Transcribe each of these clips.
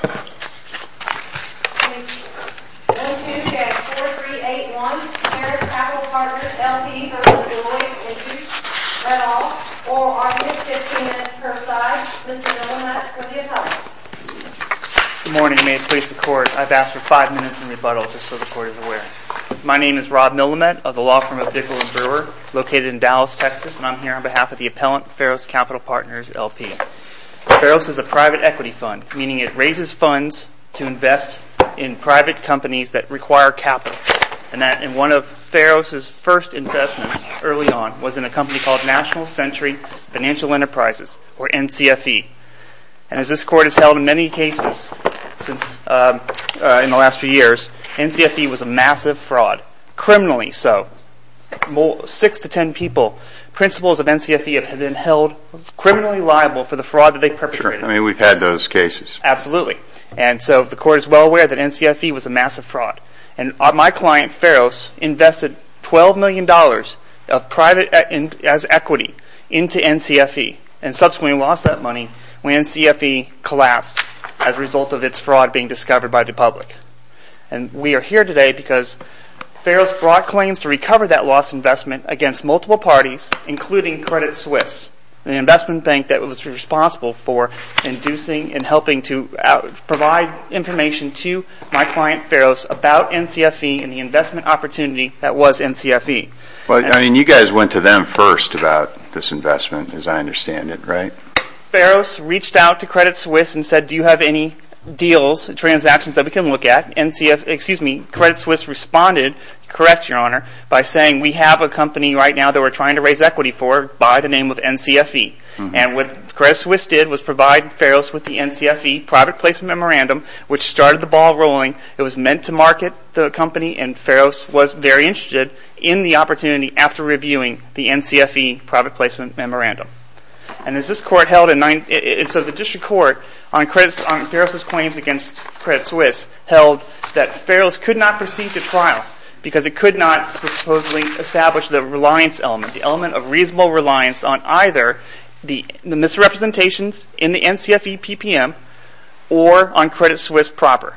1, 2, 3, 4, 3, 8, 1, Ferros Capital Partners LP v. Deloitte and Touche, read all, oral argument, 15 minutes per side, Mr. Millamet for the appellant. Good morning, may it please the court, I've asked for 5 minutes in rebuttal just so the court is aware. My name is Rob Millamet of the law firm of Bickle and Brewer, located in Dallas, Texas, and I'm here on behalf of the appellant Ferros Capital Partners LP. Ferros is a private equity fund, meaning it raises funds to invest in private companies that require capital. And one of Ferros' first investments early on was in a company called National Century Financial Enterprises, or NCFE. And as this court has held in many cases in the last few years, NCFE was a massive fraud, criminally so. 6 to 10 people, principals of NCFE have been held criminally liable for the fraud that they perpetrated. I mean we've had those cases. Absolutely, and so the court is well aware that NCFE was a massive fraud. And my client Ferros invested $12 million of private equity into NCFE, and subsequently lost that money when NCFE collapsed as a result of its fraud being discovered by the public. And we are here today because Ferros brought claims to recover that lost investment against multiple parties, including Credit Suisse, an investment bank that was responsible for inducing and helping to provide information to my client Ferros about NCFE and the investment opportunity that was NCFE. Well, I mean you guys went to them first about this investment as I understand it, right? Ferros reached out to Credit Suisse and said, do you have any deals, transactions that we can look at? Credit Suisse responded, correct your honor, by saying we have a company right now that we're trying to raise equity for by the name of NCFE. And what Credit Suisse did was provide Ferros with the NCFE private placement memorandum, which started the ball rolling. It was meant to market the company, and Ferros was very interested in the opportunity after reviewing the NCFE private placement memorandum. And so the district court on Ferros' claims against Credit Suisse held that Ferros could not proceed to trial because it could not supposedly establish the reliance element, the element of reasonable reliance on either the misrepresentations in the NCFE PPM or on Credit Suisse proper.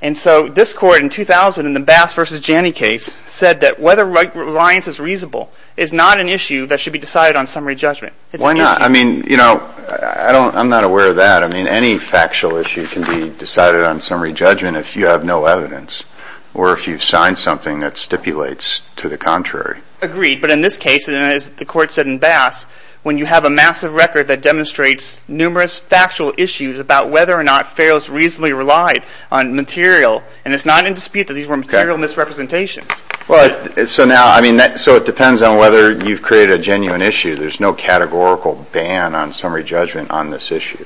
And so this court in 2000 in the Bass v. Janney case said that whether reliance is reasonable is not an issue that should be decided on summary judgment. Why not? I mean, you know, I'm not aware of that. I mean, any factual issue can be decided on summary judgment if you have no evidence or if you've signed something that stipulates to the contrary. Agreed, but in this case, as the court said in Bass, when you have a massive record that demonstrates numerous factual issues about whether or not Ferros reasonably relied on material, and it's not in dispute that these were material misrepresentations. Well, so now, I mean, so it depends on whether you've created a genuine issue. There's no categorical ban on summary judgment on this issue.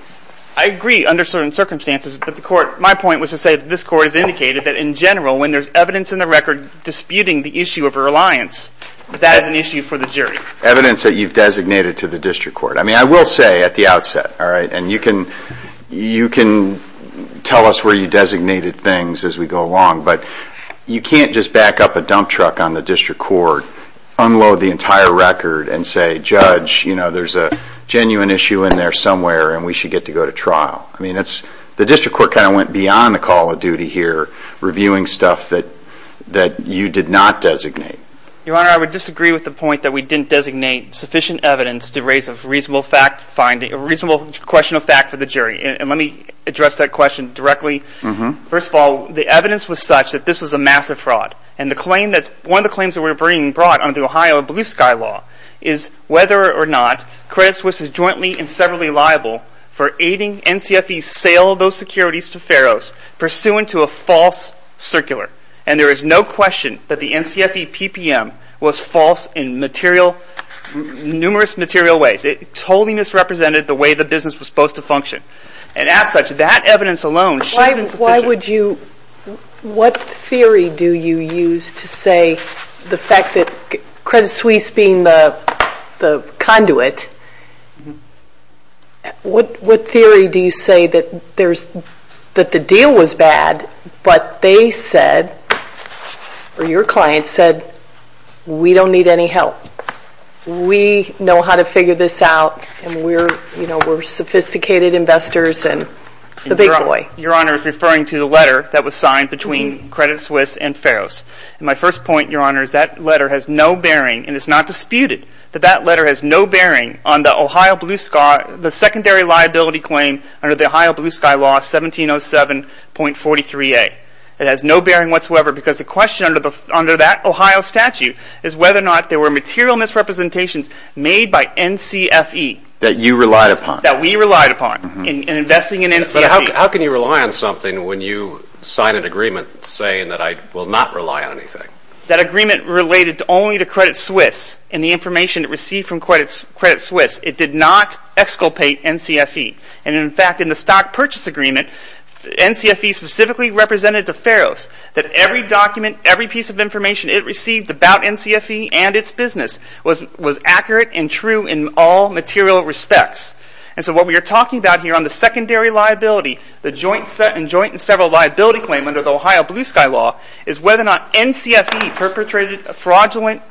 I agree under certain circumstances, but my point was to say that this court has indicated that in general, when there's evidence in the record disputing the issue of reliance, that is an issue for the jury. Evidence that you've designated to the district court. I mean, I will say at the outset, all right, and you can tell us where you designated things as we go along, but you can't just back up a dump truck on the district court, unload the entire record, and say, Judge, you know, there's a genuine issue in there somewhere, and we should get to go to trial. I mean, the district court kind of went beyond the call of duty here, reviewing stuff that you did not designate. Your Honor, I would disagree with the point that we didn't designate sufficient evidence to raise a reasonable fact finding, a reasonable question of fact for the jury, and let me address that question directly. First of all, the evidence was such that this was a massive fraud, and one of the claims that were being brought under the Ohio blue sky law is whether or not Credit Suisse is jointly and severally liable for aiding NCFE's sale of those securities to Faroes pursuant to a false circular, and there is no question that the NCFE PPM was false in numerous material ways. It totally misrepresented the way the business was supposed to function, and as such, that evidence alone should have been sufficient. Why would you, what theory do you use to say the fact that Credit Suisse being the conduit, what theory do you say that the deal was bad, but they said, or your client said, we don't need any help. We know how to figure this out, and we're sophisticated investors, and the big boy. Your Honor is referring to the letter that was signed between Credit Suisse and Faroes. My first point, Your Honor, is that letter has no bearing, and it's not disputed, that that letter has no bearing on the Ohio blue sky, the secondary liability claim under the Ohio blue sky law 1707.43a. It has no bearing whatsoever, because the question under that Ohio statute is whether or not there were material misrepresentations made by NCFE. That you relied upon. That we relied upon in investing in NCFE. But how can you rely on something when you sign an agreement saying that I will not rely on anything. That agreement related only to Credit Suisse, and the information it received from Credit Suisse, it did not exculpate NCFE. And in fact, in the stock purchase agreement, NCFE specifically represented to Faroes that every document, every piece of information it received about NCFE and its business was accurate and true in all material respects. And so what we are talking about here on the secondary liability, the joint and several liability claim under the Ohio blue sky law, is whether or not NCFE perpetrated a fraudulent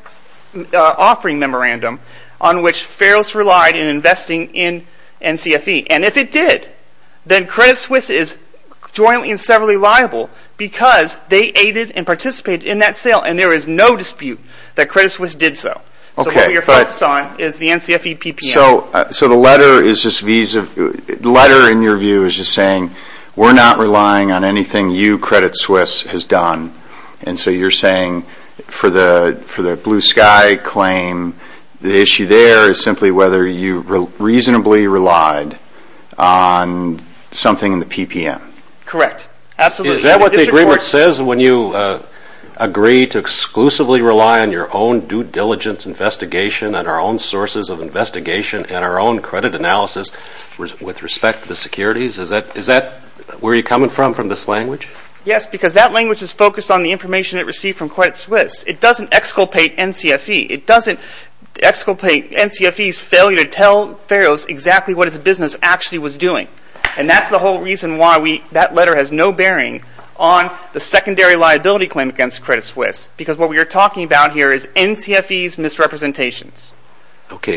offering memorandum on which Faroes relied in investing in NCFE. And if it did, then Credit Suisse is jointly and severally liable because they aided and participated in that sale, and there is no dispute that Credit Suisse did so. So what we are focused on is the NCFE PPM. So the letter in your view is just saying we are not relying on anything you Credit Suisse has done. And so you are saying for the blue sky claim, the issue there is simply whether you reasonably relied on something in the PPM. Correct. Absolutely. Is that what the agreement says when you agree to exclusively rely on your own due diligence investigation and our own sources of investigation and our own credit analysis with respect to the securities? Is that where you are coming from, from this language? Yes, because that language is focused on the information it received from Credit Suisse. It doesn't exculpate NCFE. It doesn't exculpate NCFE's failure to tell Faroes exactly what its business actually was doing. And that's the whole reason why that letter has no bearing on the secondary liability claim against Credit Suisse. Because what we are talking about here is NCFE's misrepresentations. Okay,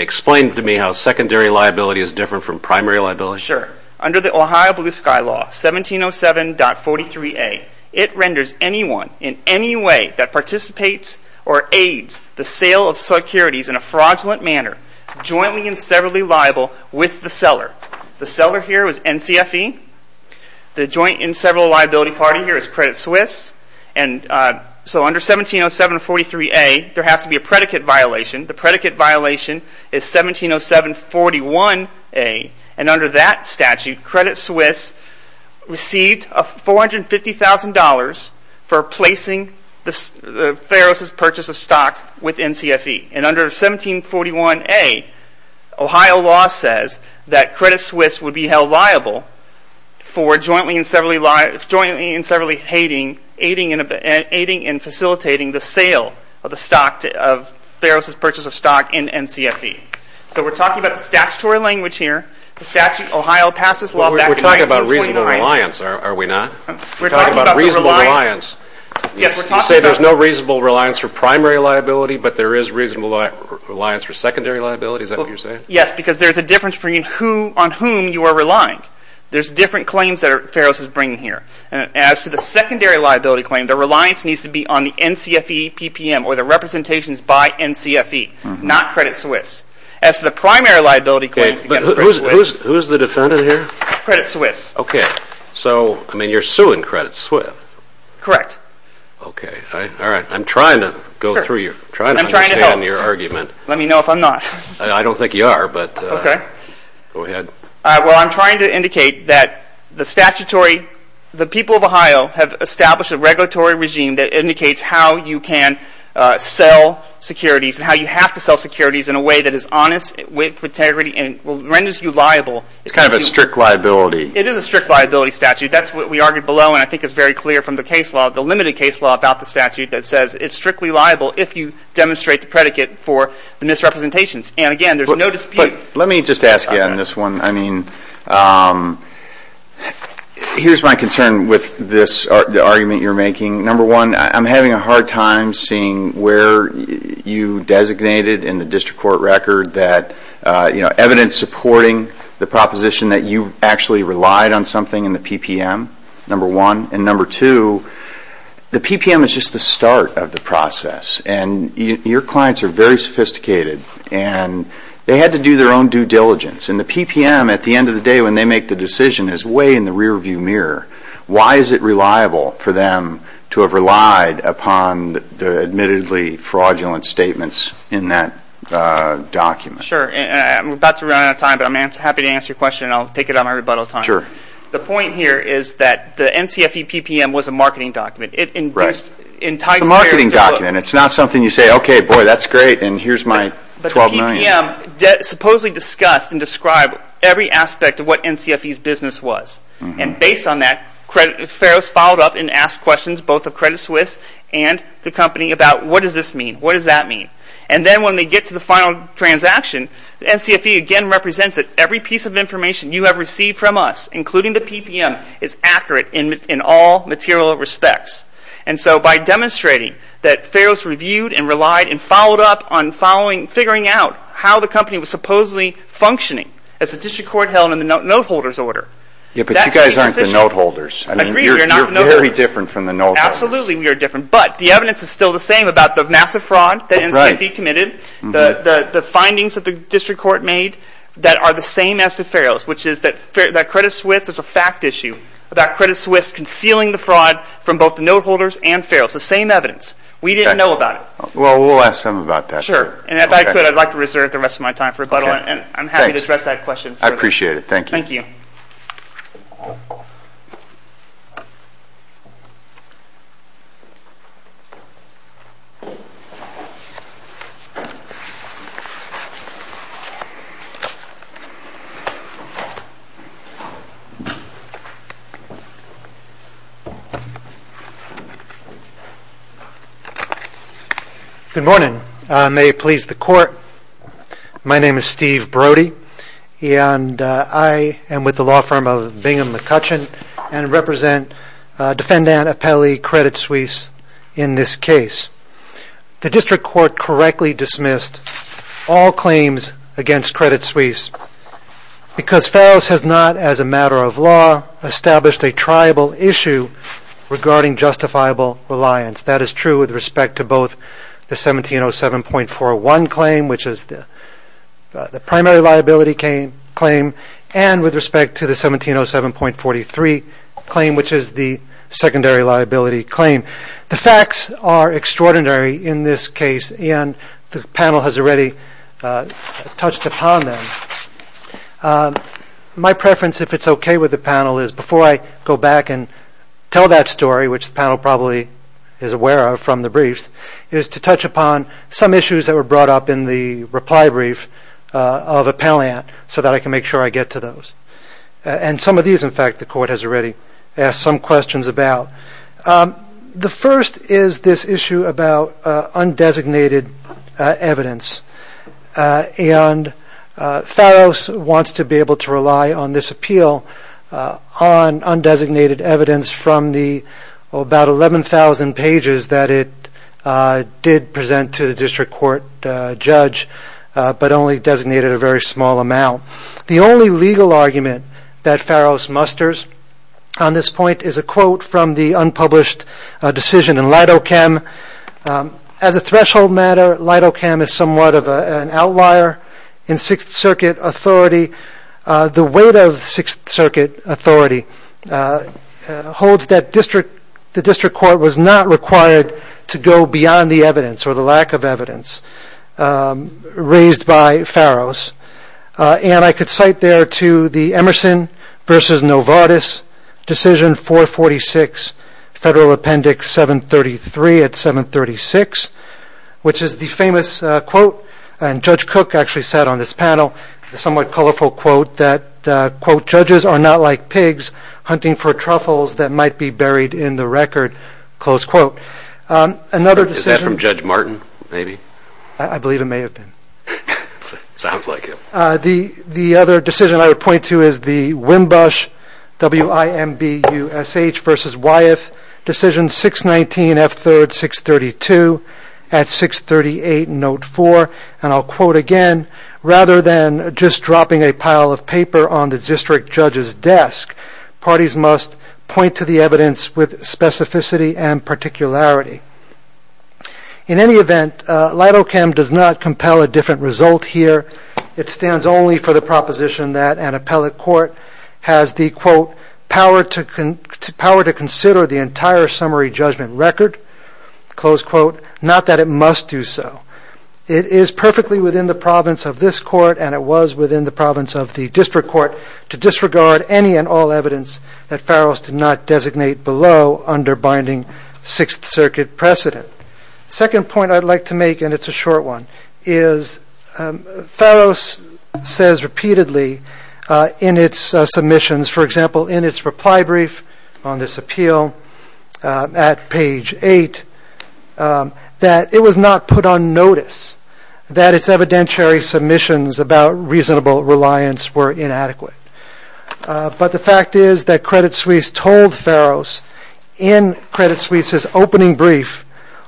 explain to me how secondary liability is different from primary liability. Sure. Under the Ohio Blue Sky Law, 1707.43a, it renders anyone in any way that participates or aids the sale of securities in a fraudulent manner jointly and severally liable with the seller. The seller here is NCFE. The joint and several liability party here is Credit Suisse. And so under 1707.43a, there has to be a predicate violation. The predicate violation is 1707.41a. And under that statute, Credit Suisse received $450,000 for placing the Faroes' purchase of stock with NCFE. And under 1707.41a, Ohio law says that Credit Suisse would be held liable for jointly and severally aiding and facilitating the sale of Faroes' purchase of stock in NCFE. So we're talking about the statutory language here. The statute, Ohio passes law back in 1929. We're talking about reasonable reliance, are we not? We're talking about reasonable reliance. You say there's no reasonable reliance for primary liability, but there is reasonable reliance for secondary liability, is that what you're saying? Yes, because there's a difference between who on whom you are relying. There's different claims that Faroes is bringing here. And as to the secondary liability claim, the reliance needs to be on the NCFE PPM or the representations by NCFE, not Credit Suisse. As to the primary liability claims against Credit Suisse... Okay, but who's the defendant here? Credit Suisse. Okay. So, I mean, you're suing Credit Suisse. Correct. Okay. All right. I'm trying to go through your... I'm trying to help. I'm trying to understand your argument. Let me know if I'm not. I don't think you are, but... Okay. Go ahead. Well, I'm trying to indicate that the statutory... The people of Ohio have established a regulatory regime that indicates how you can sell securities and how you have to sell securities in a way that is honest with integrity and renders you liable. It's kind of a strict liability. It is a strict liability statute. That's what we argued below, and I think it's very clear from the case law, the limited case law about the statute, that says it's strictly liable if you demonstrate the predicate for the misrepresentations. And, again, there's no dispute. But let me just ask you on this one. I mean, here's my concern with this argument you're making. Number one, I'm having a hard time seeing where you designated in the district court record that, you know, evidence supporting the proposition that you actually relied on something in the PPM, number one. And, number two, the PPM is just the start of the process, and your clients are very sophisticated, and they had to do their own due diligence. And the PPM, at the end of the day, when they make the decision, is way in the rearview mirror. Why is it reliable for them to have relied upon the admittedly fraudulent statements in that document? Sure. I'm about to run out of time, but I'm happy to answer your question, and I'll take it out of my rebuttal time. Sure. The point here is that the NCFE PPM was a marketing document. Right. The marketing document. It's not something you say, okay, boy, that's great, and here's my $12 million. But the PPM supposedly discussed and described every aspect of what NCFE's business was. And based on that, Farrows followed up and asked questions, both of Credit Suisse and the company, about what does this mean? What does that mean? And then when they get to the final transaction, NCFE again represents that every piece of information you have received from us, including the PPM, is accurate in all material respects. And so by demonstrating that Farrows reviewed and relied and followed up on figuring out how the company was supposedly functioning, as the district court held in the note-holders order. Yeah, but you guys aren't the note-holders. Agreed, we're not the note-holders. You're very different from the note-holders. Absolutely we are different. But the evidence is still the same about the massive fraud that NCFE committed, the findings that the district court made that are the same as the Farrows, which is that Credit Suisse is a fact issue, about Credit Suisse concealing the fraud from both the note-holders and Farrows. The same evidence. We didn't know about it. Well, we'll ask them about that. Sure. And if I could, I'd like to reserve the rest of my time for rebuttal, and I'm happy to address that question. I appreciate it. Thank you. Thank you. Good morning. May it please the court, my name is Steve Brody, and I am with the law firm of Bingham & McCutcheon, and represent Defendant Apelli Credit Suisse in this case. The district court correctly dismissed all claims against Credit Suisse because Farrows has not, as a matter of law, established a triable issue regarding justifiable reliance. That is true with respect to both the 1707.41 claim, which is the primary liability claim, and with respect to the 1707.43 claim, which is the secondary liability claim. The facts are extraordinary in this case, and the panel has already touched upon them. My preference, if it's okay with the panel, is before I go back and tell that story, which the panel probably is aware of from the briefs, is to touch upon some issues that were brought up in the reply brief of Appellant so that I can make sure I get to those. And some of these, in fact, the court has already asked some questions about. The first is this issue about undesignated evidence, and Farrows wants to be able to rely on this appeal on undesignated evidence from the about 11,000 pages that it did present to the district court judge, but only designated a very small amount. The only legal argument that Farrows musters on this point is a quote from the unpublished decision in Lidochem. As a threshold matter, Lidochem is somewhat of an outlier in Sixth Circuit authority. The weight of Sixth Circuit authority holds that the district court was not required to go beyond the evidence or the lack of evidence raised by Farrows. And I could cite there to the Emerson v. Novartis decision 446, Federal Appendix 733 at 736, which is the famous quote, and Judge Cook actually said on this panel, a somewhat colorful quote, that, quote, judges are not like pigs hunting for truffles that might be buried in the record, close quote. Is that from Judge Martin, maybe? I believe it may have been. Sounds like him. The other decision I would point to is the Wimbush, W-I-M-B-U-S-H v. Wyeth decision 619, F-3rd, 632 at 638, Note 4, and I'll quote again, rather than just dropping a pile of paper on the district judge's desk, parties must point to the evidence with specificity and particularity. In any event, Lidochem does not compel a different result here. It stands only for the proposition that an appellate court has the, quote, power to consider the entire summary judgment record, close quote, not that it must do so. It is perfectly within the province of this court, and it was within the province of the district court, to disregard any and all evidence that Farrows did not designate below under binding Sixth Circuit precedent. The second point I'd like to make, and it's a short one, is Farrows says repeatedly in its submissions, for example, in its reply brief on this appeal at page eight, that it was not put on notice that its evidentiary submissions about reasonable reliance were inadequate. But the fact is that Credit Suisse told Farrows in Credit Suisse's opening brief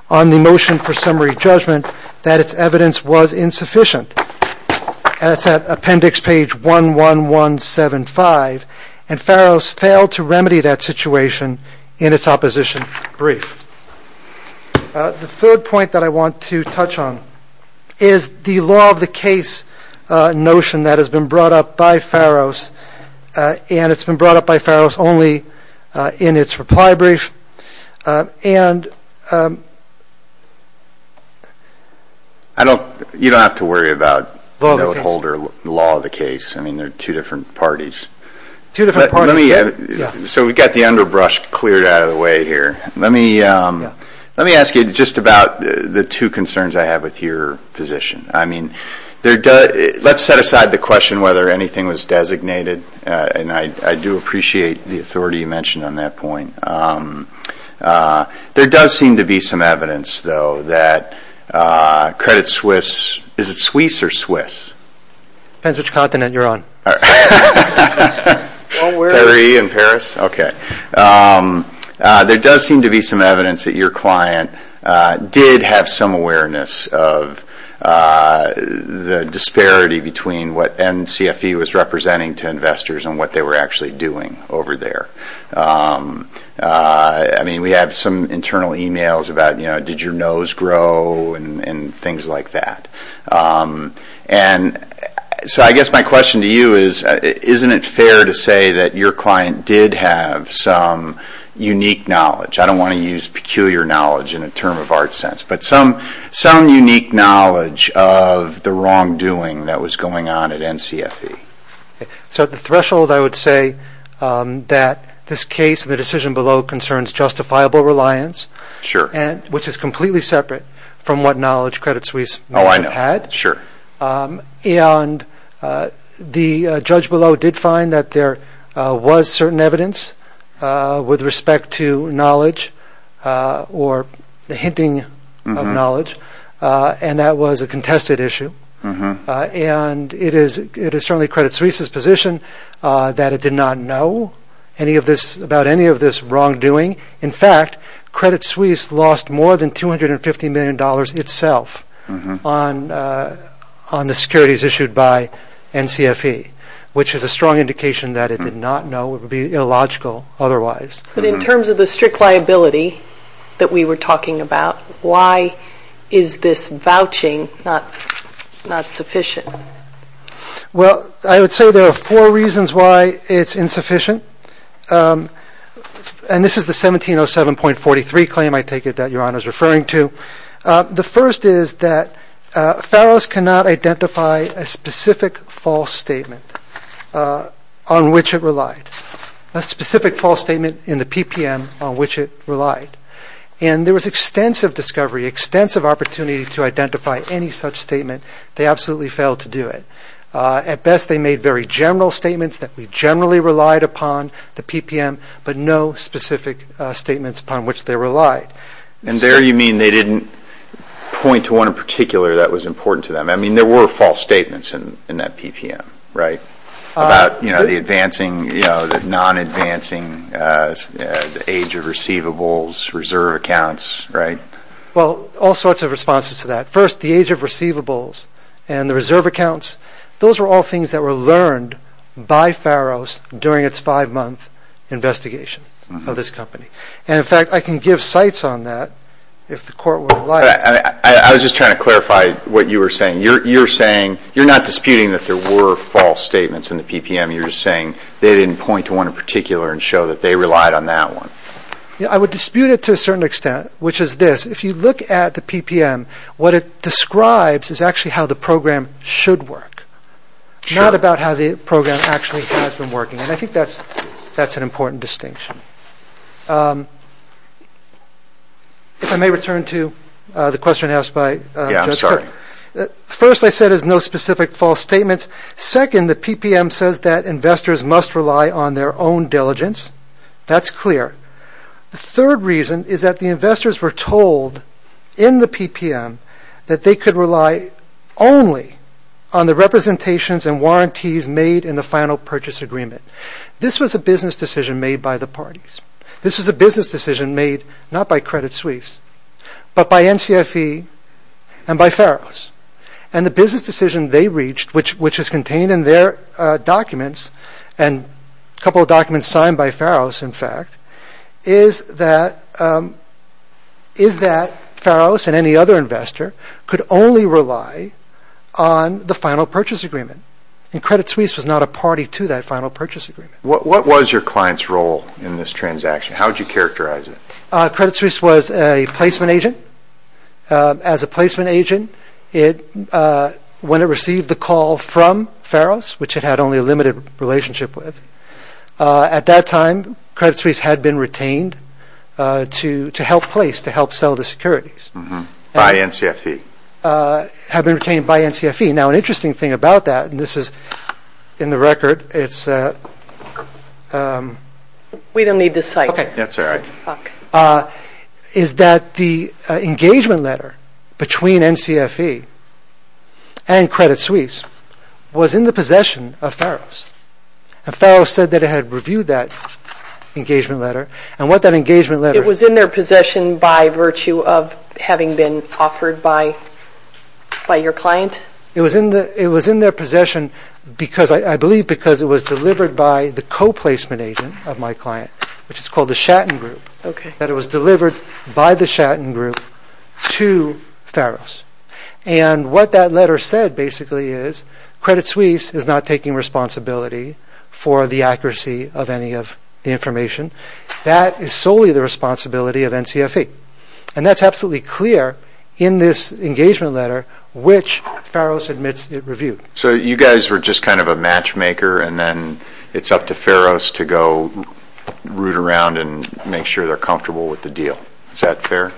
on the motion for summary judgment, that its evidence was insufficient. And it's at appendix page 11175, and Farrows failed to remedy that situation in its opposition brief. The third point that I want to touch on is the law of the case notion that has been brought up by Farrows, and it's been brought up by Farrows only in its reply brief. And I don't, you don't have to worry about the law of the case. I mean, they're two different parties. Two different parties. So we've got the underbrush cleared out of the way here. Let me ask you just about the two concerns I have with your position. I mean, let's set aside the question whether anything was designated, and I do appreciate the authority you mentioned on that point. There does seem to be some evidence, though, that Credit Suisse, is it Suisse or Swiss? Depends which continent you're on. Paris? Okay. There does seem to be some evidence that your client did have some awareness of the disparity between what NCFE was representing to investors and what they were actually doing over there. I mean, we have some internal emails about, you know, did your nose grow and things like that. And so I guess my question to you is, isn't it fair to say that your client did have some unique knowledge? I don't want to use peculiar knowledge in a term of art sense, but some unique knowledge of the wrongdoing that was going on at NCFE. So at the threshold, I would say that this case, the decision below, concerns justifiable reliance, which is completely separate from what knowledge Credit Suisse had. And the judge below did find that there was certain evidence with respect to knowledge or the hinting of knowledge, and that was a contested issue. And it is certainly Credit Suisse's position that it did not know about any of this wrongdoing. In fact, Credit Suisse lost more than $250 million itself on the securities issued by NCFE, which is a strong indication that it did not know. It would be illogical otherwise. But in terms of the strict liability that we were talking about, why is this vouching not sufficient? Well, I would say there are four reasons why it's insufficient. And this is the 1707.43 claim, I take it, that Your Honor is referring to. The first is that Farrows cannot identify a specific false statement on which it relied, a specific false statement in the PPM on which it relied. And there was extensive discovery, extensive opportunity to identify any such statement. They absolutely failed to do it. At best, they made very general statements that we generally relied upon, the PPM, but no specific statements upon which they relied. And there you mean they didn't point to one in particular that was important to them? I mean, there were false statements in that PPM, right? About the advancing, the non-advancing age of receivables, reserve accounts, right? Well, all sorts of responses to that. First, the age of receivables and the reserve accounts, those were all things that were learned by Farrows during its five-month investigation of this company. And, in fact, I can give cites on that if the Court would like. I was just trying to clarify what you were saying. You're saying you're not disputing that there were false statements in the PPM. You're just saying they didn't point to one in particular and show that they relied on that one. I would dispute it to a certain extent, which is this. If you look at the PPM, what it describes is actually how the program should work, not about how the program actually has been working, and I think that's an important distinction. If I may return to the question asked by Judge Kerr. Yeah, I'm sorry. First, I said there's no specific false statements. Second, the PPM says that investors must rely on their own diligence. That's clear. The third reason is that the investors were told in the PPM that they could rely only on the representations and warranties made in the final purchase agreement. This was a business decision made by the parties. This was a business decision made not by Credit Suisse but by NCFE and by Farrows. And the business decision they reached, which is contained in their documents and a couple of documents signed by Farrows, in fact, is that Farrows and any other investor could only rely on the final purchase agreement, and Credit Suisse was not a party to that final purchase agreement. What was your client's role in this transaction? How would you characterize it? Credit Suisse was a placement agent. As a placement agent, when it received the call from Farrows, which it had only a limited relationship with, at that time, Credit Suisse had been retained to help place, to help sell the securities. By NCFE. Had been retained by NCFE. Now, an interesting thing about that, and this is in the record, it's... Okay. That's all right. Is that the engagement letter between NCFE and Credit Suisse was in the possession of Farrows. And Farrows said that it had reviewed that engagement letter, and what that engagement letter... It was in their possession by virtue of having been offered by your client? It was in their possession because, I believe, because it was delivered by the co-placement agent of my client, which is called the Shatton Group. Okay. That it was delivered by the Shatton Group to Farrows. And what that letter said, basically, is, Credit Suisse is not taking responsibility for the accuracy of any of the information. That is solely the responsibility of NCFE. And that's absolutely clear in this engagement letter, which Farrows admits it reviewed. So you guys were just kind of a matchmaker, and then it's up to Farrows to go root around and make sure they're comfortable with the deal. Is that fair?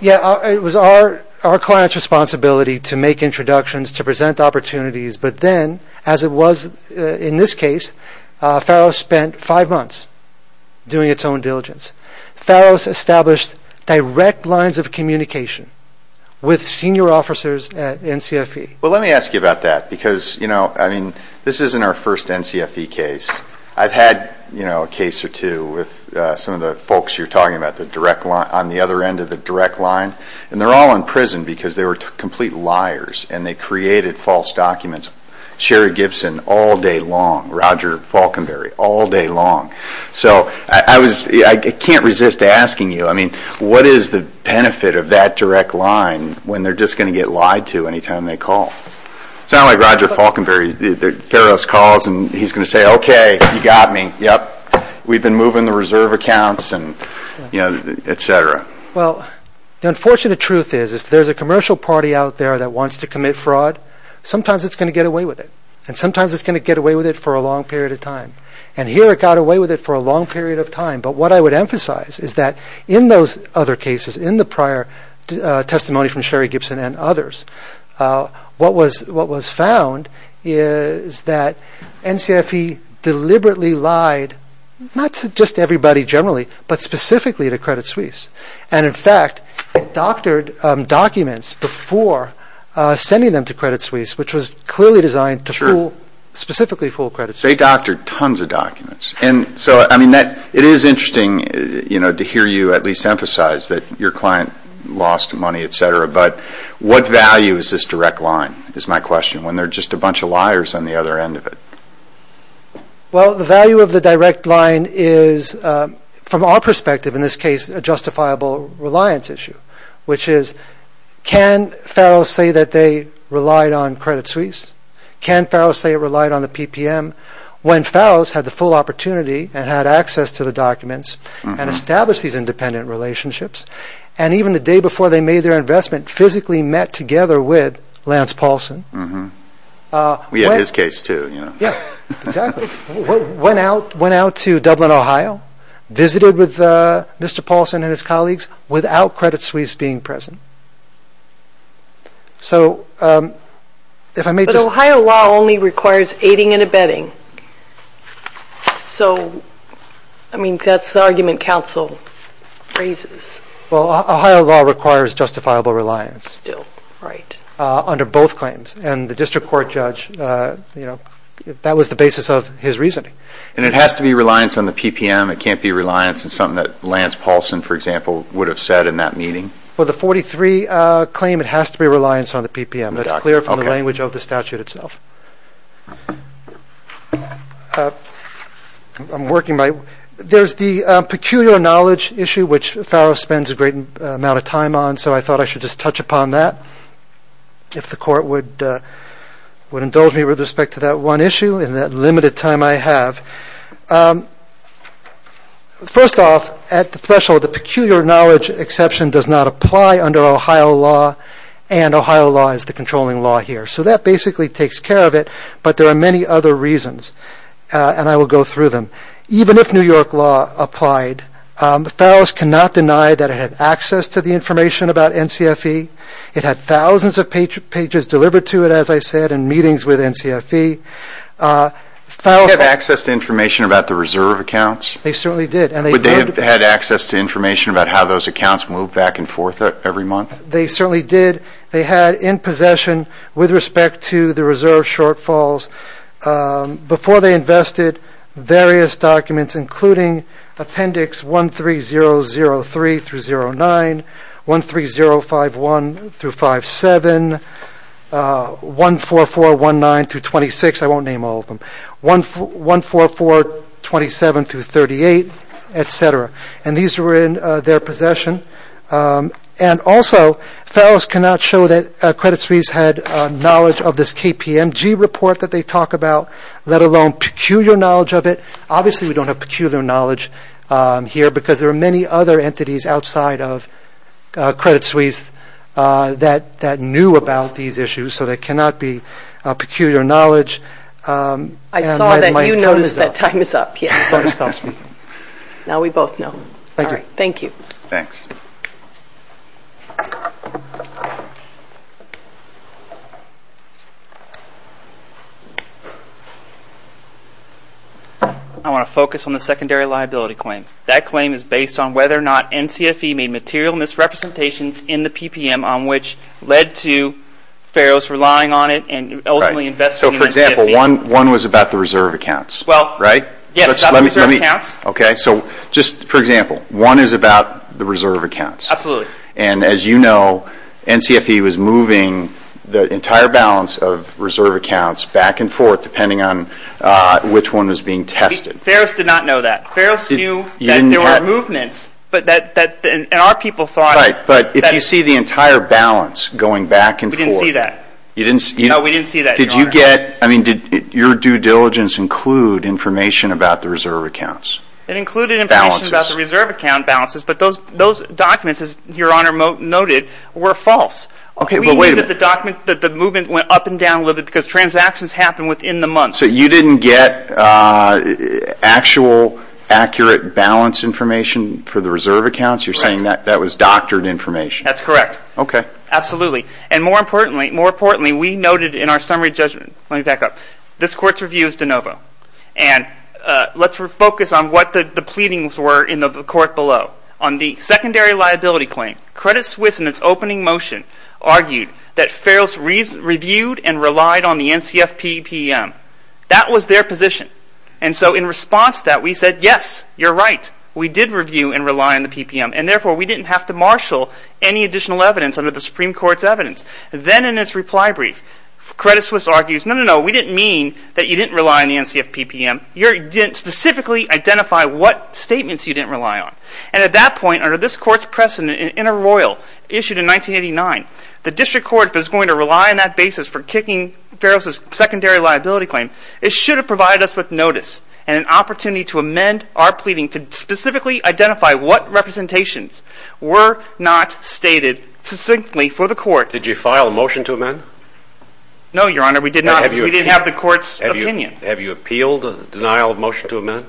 Yeah. It was our client's responsibility to make introductions, to present opportunities. But then, as it was in this case, Farrows spent five months doing its own diligence. Farrows established direct lines of communication with senior officers at NCFE. Well, let me ask you about that because, you know, I mean, this isn't our first NCFE case. I've had, you know, a case or two with some of the folks you're talking about, the direct line, on the other end of the direct line. And they're all in prison because they were complete liars, and they created false documents. Sherry Gibson all day long. Roger Falkenberry all day long. What is the benefit of that direct line when they're just going to get lied to any time they call? It's not like Roger Falkenberry. Farrows calls, and he's going to say, okay, you got me, yep. We've been moving the reserve accounts and, you know, et cetera. Well, the unfortunate truth is if there's a commercial party out there that wants to commit fraud, sometimes it's going to get away with it. And sometimes it's going to get away with it for a long period of time. And here it got away with it for a long period of time. But what I would emphasize is that in those other cases, in the prior testimony from Sherry Gibson and others, what was found is that NCFE deliberately lied not just to everybody generally, but specifically to Credit Suisse. And, in fact, it doctored documents before sending them to Credit Suisse, which was clearly designed to fool, specifically fool Credit Suisse. They doctored tons of documents. And so, I mean, it is interesting, you know, to hear you at least emphasize that your client lost money, et cetera. But what value is this direct line, is my question, when there are just a bunch of liars on the other end of it? Well, the value of the direct line is, from our perspective in this case, a justifiable reliance issue, which is can Farrows say that they relied on Credit Suisse? Can Farrows say it relied on the PPM? When Farrows had the full opportunity and had access to the documents and established these independent relationships, and even the day before they made their investment, physically met together with Lance Paulson. We had his case, too. Yeah, exactly. Went out to Dublin, Ohio, visited with Mr. Paulson and his colleagues without Credit Suisse being present. So, if I may just... So, I mean, that's the argument counsel raises. Well, Ohio law requires justifiable reliance under both claims. And the district court judge, you know, that was the basis of his reasoning. And it has to be reliance on the PPM? It can't be reliance on something that Lance Paulson, for example, would have said in that meeting? Well, the 43 claim, it has to be reliance on the PPM. That's clear from the language of the statute itself. I'm working my... There's the peculiar knowledge issue, which Farrows spends a great amount of time on, so I thought I should just touch upon that, if the court would indulge me with respect to that one issue in that limited time I have. First off, at the threshold, the peculiar knowledge exception does not apply under Ohio law, and Ohio law is the controlling law here. So that basically takes care of it, but there are many other reasons, and I will go through them. Even if New York law applied, Farrows cannot deny that it had access to the information about NCFE. It had thousands of pages delivered to it, as I said, in meetings with NCFE. They had access to information about the reserve accounts? They certainly did. But they had access to information about how those accounts moved back and forth every month? They certainly did. They had in possession, with respect to the reserve shortfalls, before they invested, various documents, including Appendix 13003-09, 13051-57, 14419-26. I won't name all of them. 14427-38, et cetera. And these were in their possession. And also, Farrows cannot show that Credit Suisse had knowledge of this KPMG report that they talk about, let alone peculiar knowledge of it. Obviously, we don't have peculiar knowledge here, because there are many other entities outside of Credit Suisse that knew about these issues, so there cannot be peculiar knowledge. I saw that you noticed that time is up. Sorry, I stopped speaking. Now we both know. Thank you. Thanks. I want to focus on the secondary liability claim. That claim is based on whether or not NCFE made material misrepresentations in the PPM on which led to Farrows relying on it and ultimately investing in NCFE. So, for example, one was about the reserve accounts, right? Yes, about the reserve accounts. Okay, so just for example, one is about the reserve accounts. Absolutely. And as you know, NCFE was moving the entire balance of reserve accounts back and forth depending on which one was being tested. Farrows did not know that. Farrows knew that there were movements, and our people thought... Right, but if you see the entire balance going back and forth... We didn't see that. No, we didn't see that, Your Honor. Did your due diligence include information about the reserve accounts? It included information about the reserve account balances, but those documents, as Your Honor noted, were false. We knew that the movement went up and down a little bit because transactions happened within the month. So you didn't get actual, accurate balance information for the reserve accounts? You're saying that was doctored information? That's correct. Okay. Let me back up. This Court's review is de novo. And let's focus on what the pleadings were in the Court below. On the secondary liability claim, Credit Suisse, in its opening motion, argued that Farrows reviewed and relied on the NCF PPM. That was their position. And so in response to that, we said, yes, you're right. We did review and rely on the PPM, and therefore we didn't have to marshal any additional evidence under the Supreme Court's evidence. Then in its reply brief, Credit Suisse argues, no, no, no. We didn't mean that you didn't rely on the NCF PPM. You didn't specifically identify what statements you didn't rely on. And at that point, under this Court's precedent, in a royal issued in 1989, the District Court is going to rely on that basis for kicking Farrows' secondary liability claim. It should have provided us with notice and an opportunity to amend our pleading to specifically identify what representations were not stated succinctly for the Court. Did you file a motion to amend? No, Your Honor, we did not. We didn't have the Court's opinion. Have you appealed the denial of motion to amend?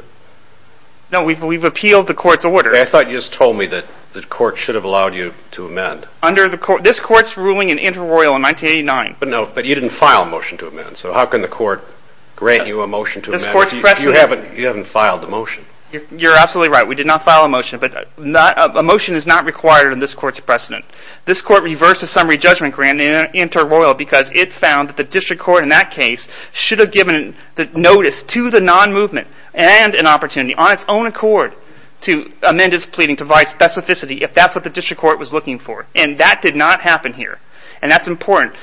No, we've appealed the Court's order. I thought you just told me that the Court should have allowed you to amend. This Court's ruling in inter-royal in 1989. But you didn't file a motion to amend, so how can the Court grant you a motion to amend if you haven't filed a motion? You're absolutely right. We did not file a motion, but a motion is not required in this Court's precedent. This Court reversed the summary judgment grant in inter-royal because it found that the District Court in that case should have given the notice to the non-movement and an opportunity on its own accord to amend its pleading to provide specificity if that's what the District Court was looking for. And that did not happen here. And that's important.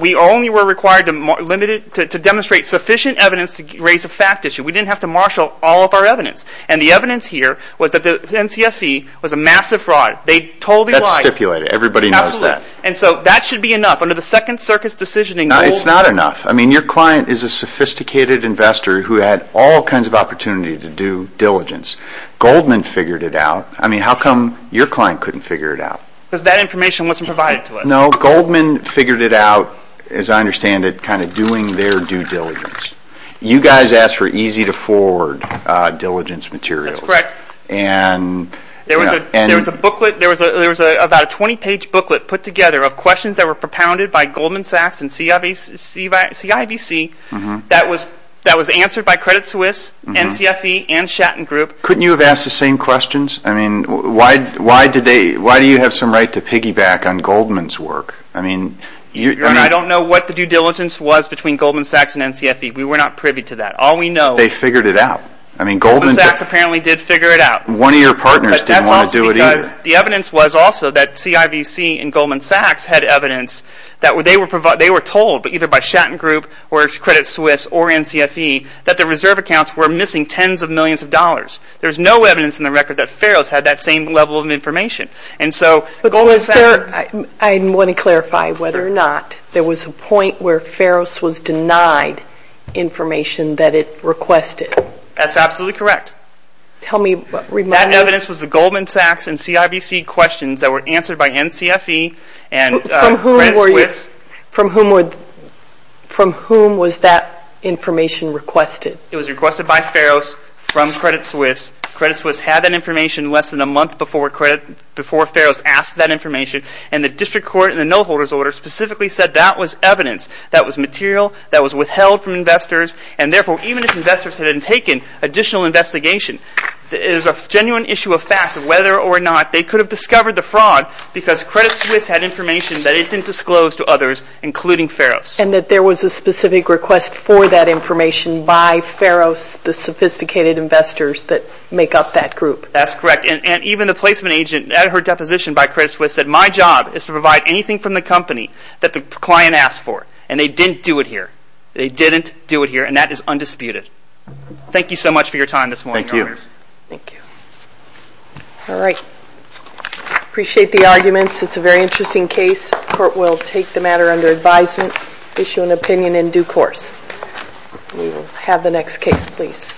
We only were required to demonstrate sufficient evidence to raise a fact issue. We didn't have to marshal all of our evidence. And the evidence here was that the NCFE was a massive fraud. They totally lied. That's stipulated. Everybody knows that. Absolutely. And so that should be enough. Under the Second Circus Decisioning Rule... It's not enough. I mean, your client is a sophisticated investor who had all kinds of opportunity to do diligence. Goldman figured it out. I mean, how come your client couldn't figure it out? Because that information wasn't provided to us. No, Goldman figured it out, as I understand it, kind of doing their due diligence. You guys asked for easy-to-forward diligence materials. That's correct. There was about a 20-page booklet put together of questions that were propounded by Goldman Sachs and CIBC that was answered by Credit Suisse, NCFE, and Shatton Group. Couldn't you have asked the same questions? I mean, why do you have some right to piggyback on Goldman's work? I don't know what the due diligence was between Goldman Sachs and NCFE. We were not privy to that. All we know... They figured it out. Goldman Sachs apparently did figure it out. One of your partners didn't want to do it either. The evidence was also that CIBC and Goldman Sachs had evidence that they were told, either by Shatton Group or Credit Suisse or NCFE, that the reserve accounts were missing tens of millions of dollars. There's no evidence in the record that Feros had that same level of information. I want to clarify whether or not there was a point where Feros was denied information that it requested. That's absolutely correct. That evidence was the Goldman Sachs and CIBC questions that were answered by NCFE and Credit Suisse. From whom was that information requested? It was requested by Feros from Credit Suisse. Credit Suisse had that information less than a month before Feros asked for that information, and the district court in the no-holders order specifically said that was evidence, that was material, that was withheld from investors, and therefore even if investors had taken additional investigation, it is a genuine issue of fact whether or not they could have discovered the fraud because Credit Suisse had information that it didn't disclose to others, including Feros. And that there was a specific request for that information by Feros, the sophisticated investors that make up that group. That's correct, and even the placement agent, at her deposition by Credit Suisse, said my job is to provide anything from the company that the client asked for, and they didn't do it here. They didn't do it here, and that is undisputed. Thank you so much for your time this morning, Your Honors. Thank you. Thank you. All right. Appreciate the arguments. It's a very interesting case. Court will take the matter under advisement, issue an opinion in due course. We will have the next case, please.